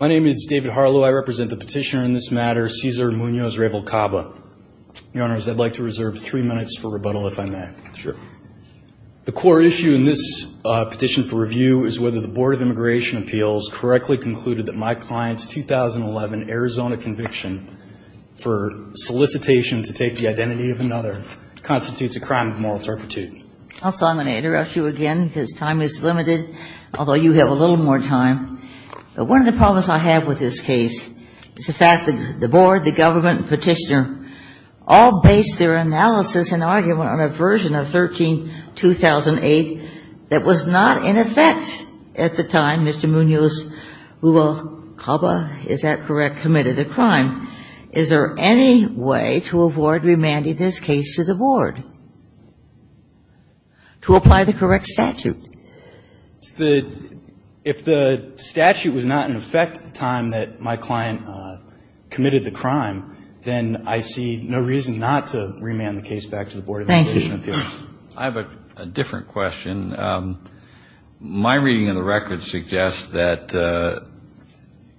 My name is David Harlow. I represent the petitioner in this matter, Cesar Munoz-Ruvalcaba. Your Honors, I'd like to reserve three minutes for rebuttal, if I may. Sure. The core issue in this petition for review is whether the Board of Immigration Appeals correctly concluded that my client's 2011 Arizona conviction for solicitation to take the identity of another constitutes a crime of moral turpitude. Also, I'm going to interrupt you again because time is limited, although you have a little more time. But one of the problems I have with this case is the fact that the Board, the government, and petitioner all based their analysis and argument on a version of 13-2008 that was not in effect at the time Mr. Munoz-Ruvalcaba, is there any way to avoid remanding this case to the Board to apply the correct statute? If the statute was not in effect at the time that my client committed the crime, then I see no reason not to remand the case back to the Board of Immigration Appeals. Thank you. I have a different question. My reading of the record suggests that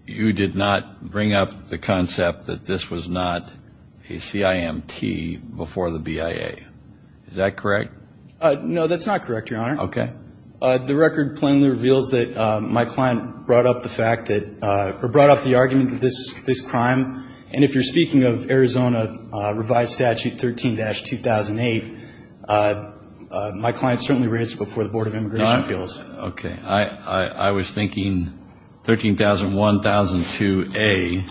you did not bring up the concept that this was not a CIMT before the BIA. Is that correct? No, that's not correct, Your Honor. Okay. The record plainly reveals that my client brought up the fact that or brought up the argument that this is a crime. And if you're speaking of Arizona Revised Statute 13-2008, my client certainly raised it before the Board of Immigration Appeals. Okay. I was thinking 13-1002A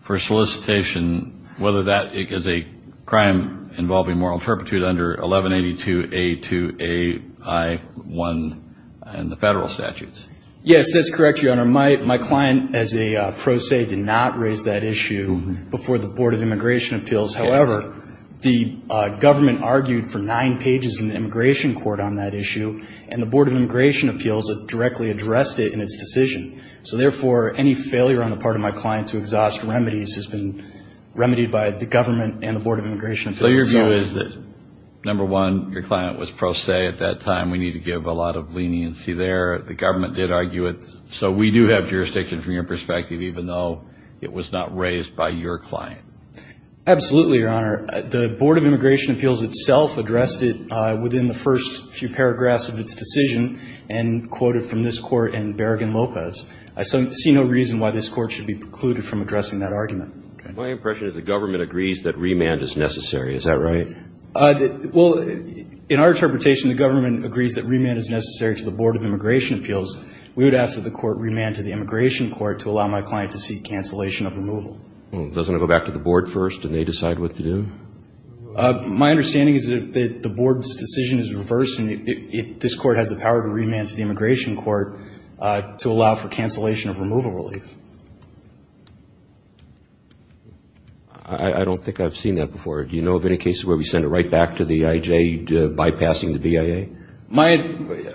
for solicitation, whether that is a crime involving moral turpitude under 1182A2AI1 in the federal statutes. Yes, that's correct, Your Honor. My client, as a pro se, did not raise that issue before the Board of Immigration Appeals. However, the government argued for nine pages in the immigration court on that issue, and the Board of Immigration Appeals directly addressed it in its decision. So, therefore, any failure on the part of my client to exhaust remedies has been remedied by the government and the Board of Immigration Appeals themselves. So your view is that, number one, your client was pro se at that time. We need to give a lot of leniency there. The government did argue it. So we do have jurisdiction from your perspective, even though it was not raised by your client. Absolutely, Your Honor. The Board of Immigration Appeals itself addressed it within the first few paragraphs of its decision and quoted from this court in Berrigan-Lopez. I see no reason why this court should be precluded from addressing that argument. My impression is the government agrees that remand is necessary. Is that right? Well, in our interpretation, the government agrees that remand is necessary to the Board of Immigration Appeals. We would ask that the court remand to the immigration court to allow my client to seek cancellation of removal. Well, doesn't it go back to the board first, and they decide what to do? My understanding is that the board's decision is reversed, and this court has the power to remand to the immigration court to allow for cancellation of removal relief. I don't think I've seen that before. Do you know of any cases where we send it right back to the I.J., bypassing the BIA?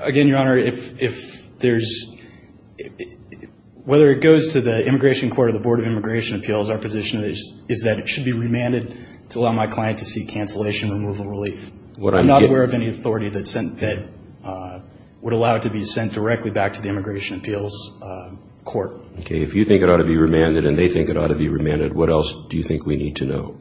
Again, Your Honor, whether it goes to the immigration court or the Board of Immigration Appeals, our position is that it should be remanded to allow my client to seek cancellation of removal relief. I'm not aware of any authority that would allow it to be sent directly back to the immigration appeals court. Okay. If you think it ought to be remanded and they think it ought to be remanded, what else do you think we need to know?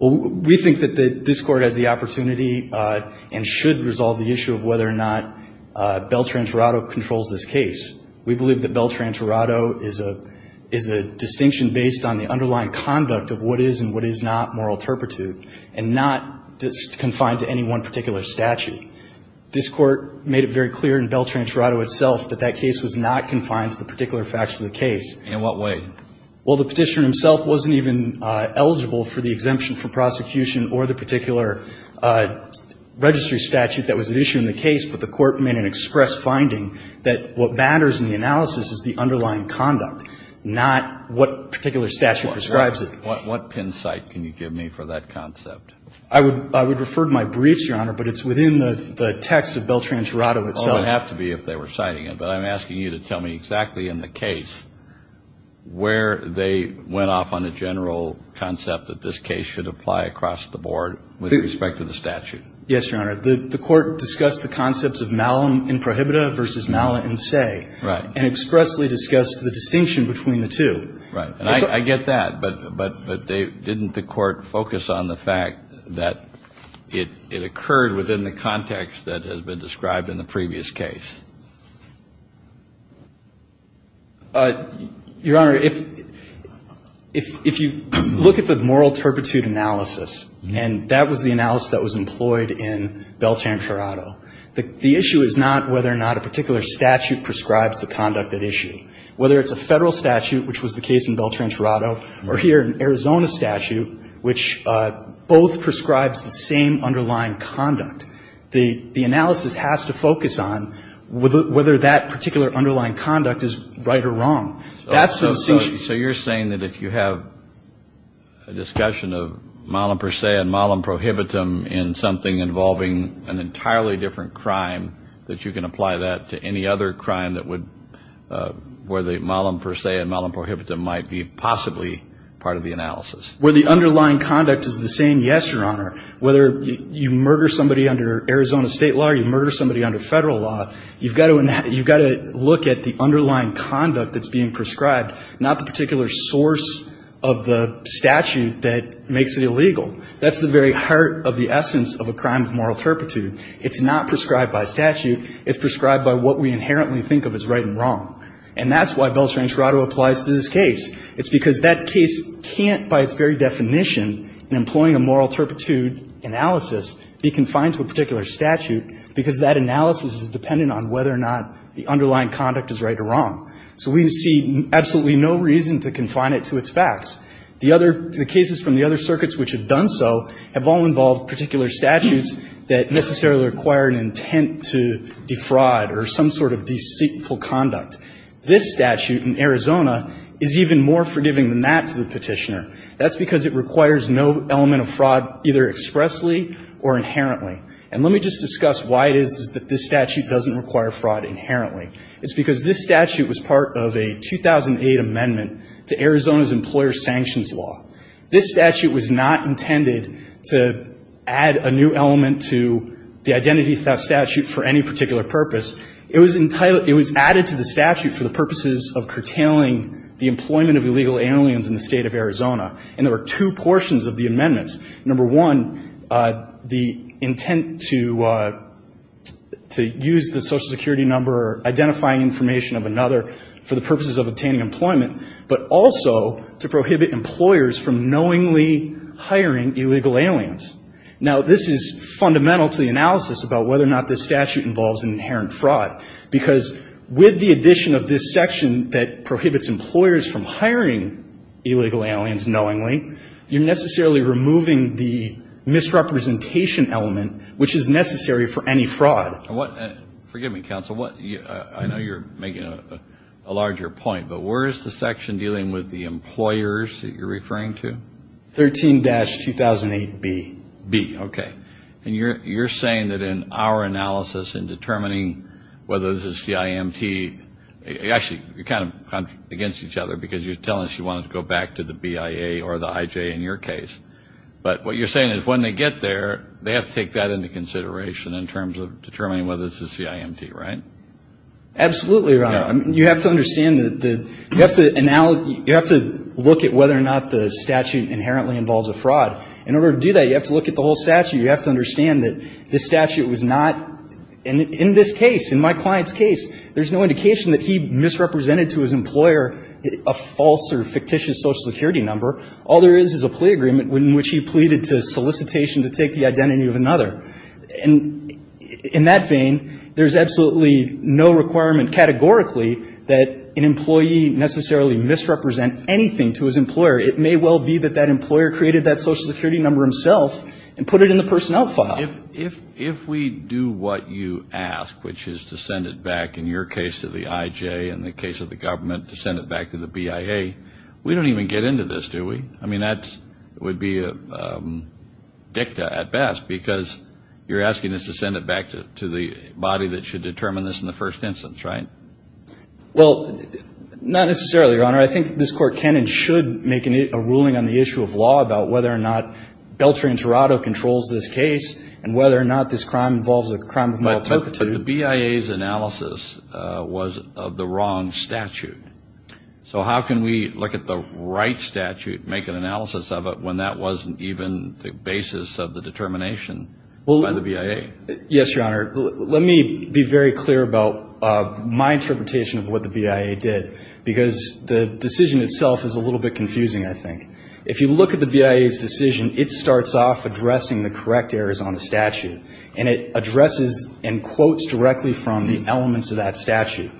We think that this court has the opportunity and should resolve the issue of whether or not Beltran-Torado controls this case. We believe that Beltran-Torado is a distinction based on the underlying conduct of what is and what is not moral turpitude, and not just confined to any one particular statute. This court made it very clear in Beltran-Torado itself that that case was not confined to the particular facts of the case. In what way? Well, the Petitioner himself wasn't even eligible for the exemption from prosecution or the particular registry statute that was at issue in the case, but the court made an express finding that what matters in the analysis is the underlying conduct, not what particular statute prescribes it. What pin site can you give me for that concept? I would refer to my briefs, Your Honor, but it's within the text of Beltran-Torado itself. Well, it would have to be if they were citing it, but I'm asking you to tell me exactly in the case where they went off on a general concept that this case should apply across the board with respect to the statute. Yes, Your Honor. The court discussed the concepts of malum in prohibita versus mala in se. Right. And expressly discussed the distinction between the two. Right. And I get that, but didn't the court focus on the fact that it occurred within the context that has been described in the previous case? Your Honor, if you look at the moral turpitude analysis, and that was the analysis that was employed in Beltran-Torado, the issue is not whether or not a particular statute prescribes the conduct at issue. Whether it's a Federal statute, which was the case in Beltran-Torado, or here an Arizona statute, which both prescribes the same underlying conduct. The analysis has to focus on whether that particular underlying conduct is right or wrong. That's the distinction. So you're saying that if you have a discussion of malum per se and malum prohibitum in something involving an entirely different crime, that you can apply that to any other crime that would, where the malum per se and malum prohibitum might be possibly part of the analysis? Where the underlying conduct is the same, yes, Your Honor. Whether you murder somebody under Arizona state law or you murder somebody under Federal law, you've got to look at the underlying conduct that's being prescribed, not the particular source of the statute that makes it illegal. That's the very heart of the essence of a crime of moral turpitude. It's not prescribed by statute. It's prescribed by what we inherently think of as right and wrong. And that's why Beltran-Torado applies to this case. It's because that case can't, by its very definition, in employing a moral turpitude analysis be confined to a particular statute, because that analysis is dependent on whether or not the underlying conduct is right or wrong. So we see absolutely no reason to confine it to its facts. The other, the cases from the other circuits which have done so have all involved particular statutes that necessarily require an intent to defraud or some sort of deceitful conduct. This statute in Arizona is even more forgiving than that to the Petitioner. That's because it requires no element of fraud, either expressly or inherently. And let me just discuss why it is that this statute doesn't require fraud inherently. It's because this statute was part of a 2008 amendment to Arizona's employer sanctions law. This statute was not intended to add a new element to the identity theft statute for any particular purpose. It was added to the statute for the purposes of curtailing the employment of illegal aliens in the State of Arizona. And there were two portions of the amendments. Number one, the intent to use the Social Security number or identifying information of another for the purposes of hiring illegal aliens. Now, this is fundamental to the analysis about whether or not this statute involves an inherent fraud. Because with the addition of this section that prohibits employers from hiring illegal aliens knowingly, you're necessarily removing the misrepresentation element which is necessary for any fraud. Forgive me, counsel. I know you're making a larger point, but where is the section dealing with the employers that you're referring to? 13-2008B. B, okay. And you're saying that in our analysis in determining whether this is CIMT, actually, you're kind of against each other because you're telling us you wanted to go back to the BIA or the IJ in your case. But what you're saying is when they get there, they have to take that into consideration in terms of determining whether this is CIMT, right? Absolutely, Your Honor. You have to understand that you have to look at whether or not the statute inherently involves a fraud. In order to do that, you have to look at the whole statute. You have to understand that this statute was not, in this case, in my client's case, there's no indication that he misrepresented to his employer a false or fictitious Social Security number. All there is is a plea agreement in which he pleaded to solicitation to take the identity of another. And in that vein, there's absolutely no requirement categorically that an employee necessarily misrepresent anything to his employer. It may well be that that employer created that Social Security number himself and put it in the personnel file. If we do what you ask, which is to send it back, in your case, to the IJ, in the case of the government, to send it back to the BIA, we don't even get into this, do we? I mean, that would be a dicta at best because you're asking us to send it back to the body that should determine this in the first instance, right? Well, not necessarily, Your Honor. I think this Court can and should make a ruling on the issue of law about whether or not Beltran-Torado controls this case, and whether or not this crime involves a crime of mal-temperature. But the BIA's analysis was of the wrong statute. So how can we look at the right statute and make an analysis of it when that wasn't even the basis of the determination by the BIA? Yes, Your Honor. Let me be very clear about my interpretation of what the BIA did, because the decision itself is a little bit confusing, I think. If you look at the BIA's decision, it starts off addressing the correct errors on the statute. And it addresses and quotes directly from the elements of that statute.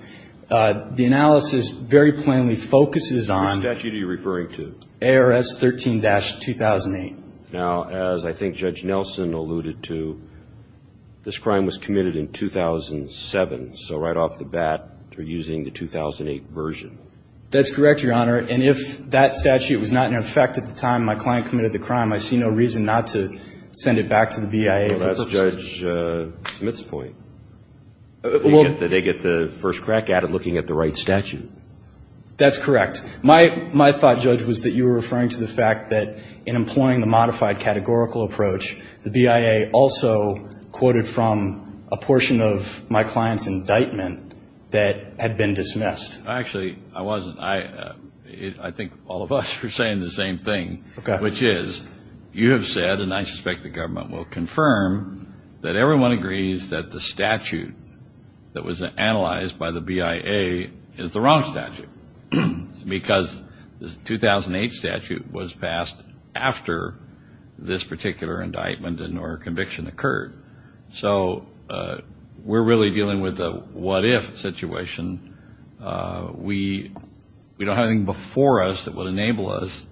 The analysis very plainly focuses on ARS 13-2008. Now, as I think Judge Nelson alluded to, this crime was committed in 2007. So right off the bat, they're using the 2008 version. That's correct, Your Honor. And if that statute was not in effect at the time my client committed the crime, I see no reason not to send it back to the BIA. Well, that's Judge Smith's point. They get the first crack at it looking at the right statute. That's correct. My thought, Judge, was that you were referring to the fact that in employing the modified categorical approach, the BIA also quoted from a portion of my client's indictment that had been dismissed. Actually, I wasn't. I think all of us are saying the same thing, which is you have said, and I suspect the government will confirm, that everyone agrees that the statute that was analyzed by the BIA is the wrong statute. Because the 2008 statute was passed after this particular indictment or conviction occurred. So we're really dealing with a what-if situation. We don't have anything before us that would enable us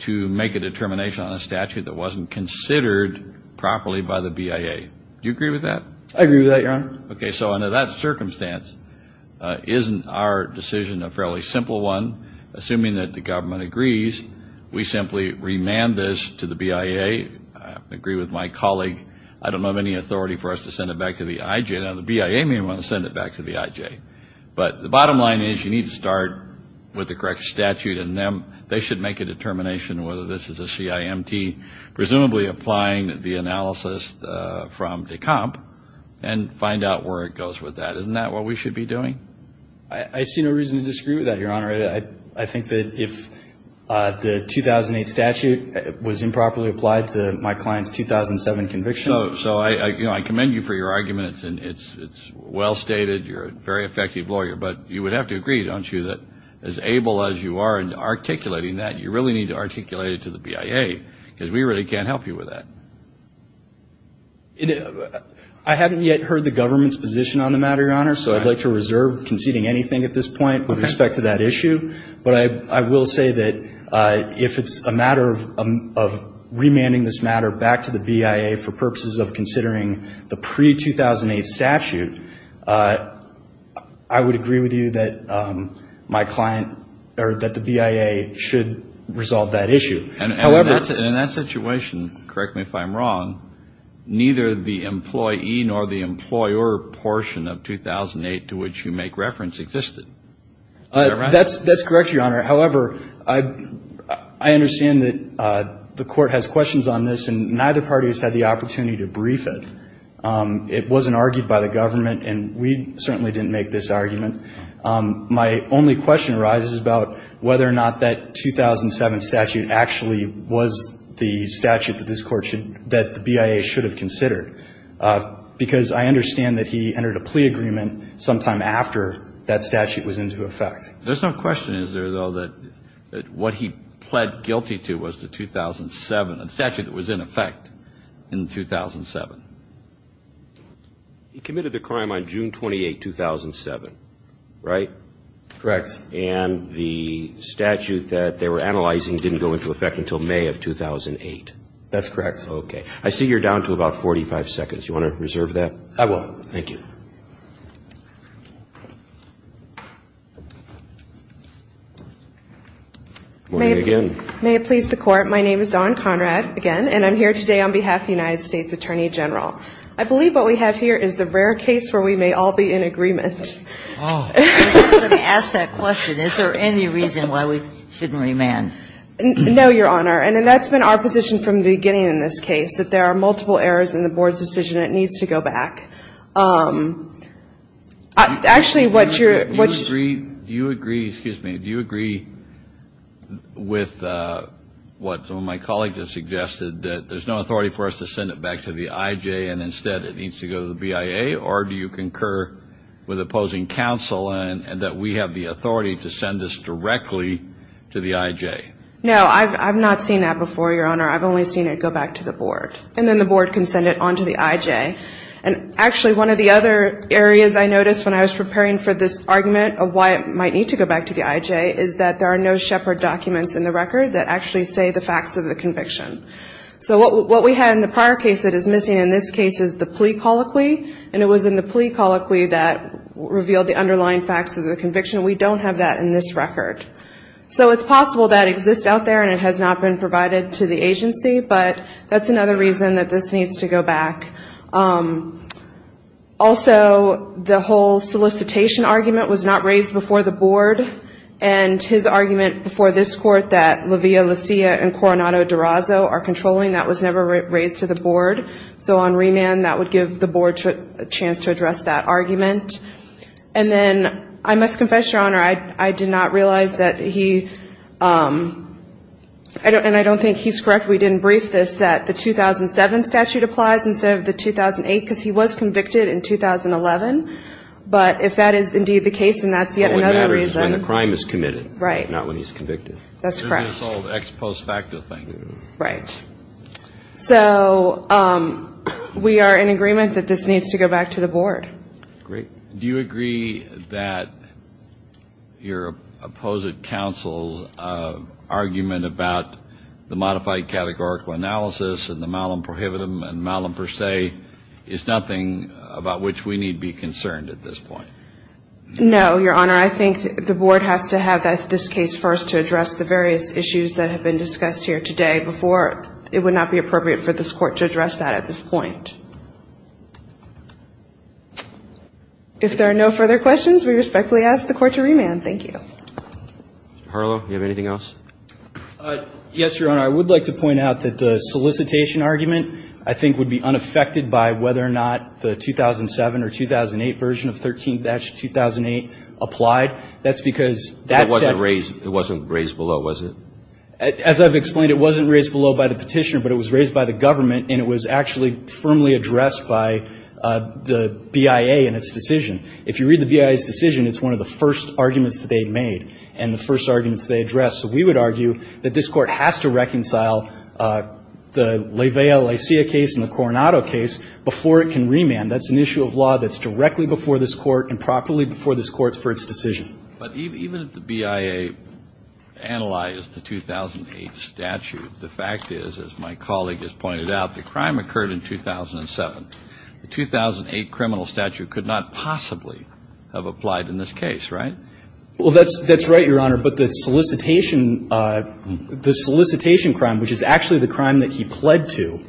to make a determination on a statute that wasn't considered properly by the BIA. Do you agree with that? I agree with that, Your Honor. Okay, so under that circumstance, isn't our decision a fairly simple one? Assuming that the government agrees, we simply remand this to the BIA. I agree with my colleague. I don't have any authority for us to send it back to the IJ. Now, the BIA may want to send it back to the IJ. But the bottom line is you need to start with the correct statute, and then they should make a determination whether this is a CIMT, presumably applying the analysis from Decomp, and find out where it goes with that. Isn't that what we should be doing? I see no reason to disagree with that, Your Honor. I think that if the 2008 statute was improperly applied to my client's 2007 conviction. So I commend you for your arguments, and it's well stated. You're a very effective lawyer. But you would have to agree, don't you, that as able as you are in articulating that, you really need to articulate it to the BIA, because we really can't help you with that. I haven't yet heard the government's position on the matter, Your Honor, so I'd like to reserve conceding anything at this point with respect to that issue. But I will say that if it's a matter of remanding this matter back to the BIA for purposes of considering the pre-2008 statute, I would agree with you that my client or that the BIA should resolve that issue. And in that situation, correct me if I'm wrong, neither the employee nor the employer portion of 2008 to which you make reference existed. That's correct, Your Honor. However, I understand that the Court has questions on this, and neither party has had the opportunity to brief it. It wasn't argued by the government, and we certainly didn't make this argument. My only question arises about whether or not that 2007 statute actually was the statute that this Court should that the BIA should have considered, because I understand that he entered a plea agreement sometime after that statute was into effect. There's no question, is there, though, that what he pled guilty to was the 2007, the statute that was in effect in 2007. He committed the crime on June 28, 2007, right? Correct. And the statute that they were analyzing didn't go into effect until May of 2008. That's correct. Okay. I see you're down to about 45 seconds. You want to reserve that? I will. Thank you. Morning again. May it please the Court, my name is Dawn Conrad, again, and I'm here today on behalf of the United States Attorney General. I believe what we have here is the rare case where we may all be in agreement. I was just going to ask that question. Is there any reason why we shouldn't remand? No, Your Honor. And that's been our position from the beginning in this case, that there are multiple errors in the Board's decision and it needs to go back. Actually, what's your ---- Do you agree with what some of my colleagues have suggested, that there's no authority for us to send it back to the IJ and instead it needs to go to the BIA? Or do you concur with opposing counsel and that we have the authority to send this directly to the IJ? No, I've not seen that before, Your Honor. I've only seen it go back to the Board. And then the Board can send it on to the IJ. And actually, one of the other areas I noticed when I was preparing for this argument of why it might need to go back to the IJ is that there are no Shepard documents in the record that actually say the facts of the conviction. So what we had in the prior case that is missing in this case is the plea colloquy, and it was in the plea colloquy that revealed the underlying facts of the conviction. We don't have that in this record. So it's possible that exists out there and it has not been provided to the agency, but that's another reason that this needs to go back. Also, the whole solicitation argument was not raised before the Board, and his argument before this Court that Livia, Lucia, and Coronado-Durazo are controlling, that was never raised to the Board. So on remand that would give the Board a chance to address that argument. And then I must confess, Your Honor, I did not realize that he – and I don't think he's correct, we didn't brief this – that the 2007 statute applies instead of the 2008, because he was convicted in 2011. But if that is indeed the case, then that's yet another reason. But what matters is when the crime is committed, not when he's convicted. That's correct. So we are in agreement that this needs to go back to the Board. Do you agree that your opposite counsel's argument about the modified categorical analysis and the malum prohibitum and malum per se is nothing about which we need be concerned at this point? No, Your Honor. I think the Board has to have this case first to address the various issues. I think the Board has to have this case first to address the various issues that have been discussed here today before it would not be appropriate for this Court to address that at this point. If there are no further questions, we respectfully ask the Court to remand. Thank you. Mr. Harlow, do you have anything else? Yes, Your Honor. I would like to point out that the solicitation argument I think would be unaffected by whether or not the 2007 or 2008 version of 13-2008 applied. That's because that's the... It wasn't raised below, was it? As I've explained, it wasn't raised below by the petitioner, but it was raised by the government, and it was actually firmly addressed by the BIA in its decision. If you read the BIA's decision, it's one of the first arguments that they made and the first arguments they addressed. So we would argue that this Court has to reconcile the Levea-Licea case and the Coronado case before it can remand. That's an issue of law that's directly before this Court and properly before this Court for its decision. But even if the BIA analyzed the 2008 statute, the fact is, as my colleague has pointed out, the crime occurred in 2007. The 2008 criminal statute could not possibly have applied in this case, right? Well, that's right, Your Honor. But the solicitation, the solicitation crime, which is actually the crime that he pled to,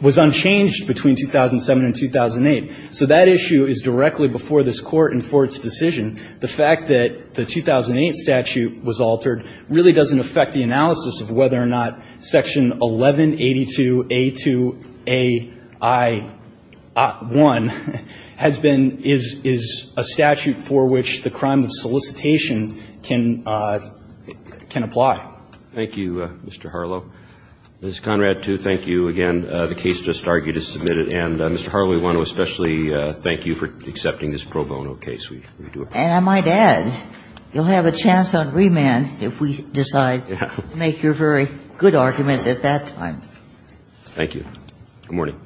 was unchanged between 2007 and 2008. So that issue is directly before this Court and for its decision. The fact that the 2008 statute was altered really doesn't affect the analysis of whether or not Section 1182A2AI1 has been, is a statute for which the crime of solicitation can apply. Thank you, Mr. Harlow. Ms. Conrad, too, thank you. Again, the case just argued is submitted. And, Mr. Harlow, we want to especially thank you for accepting this pro bono case. We do appreciate it. And I might add, you'll have a chance on remand if we decide to make your very good arguments at that time. Good morning.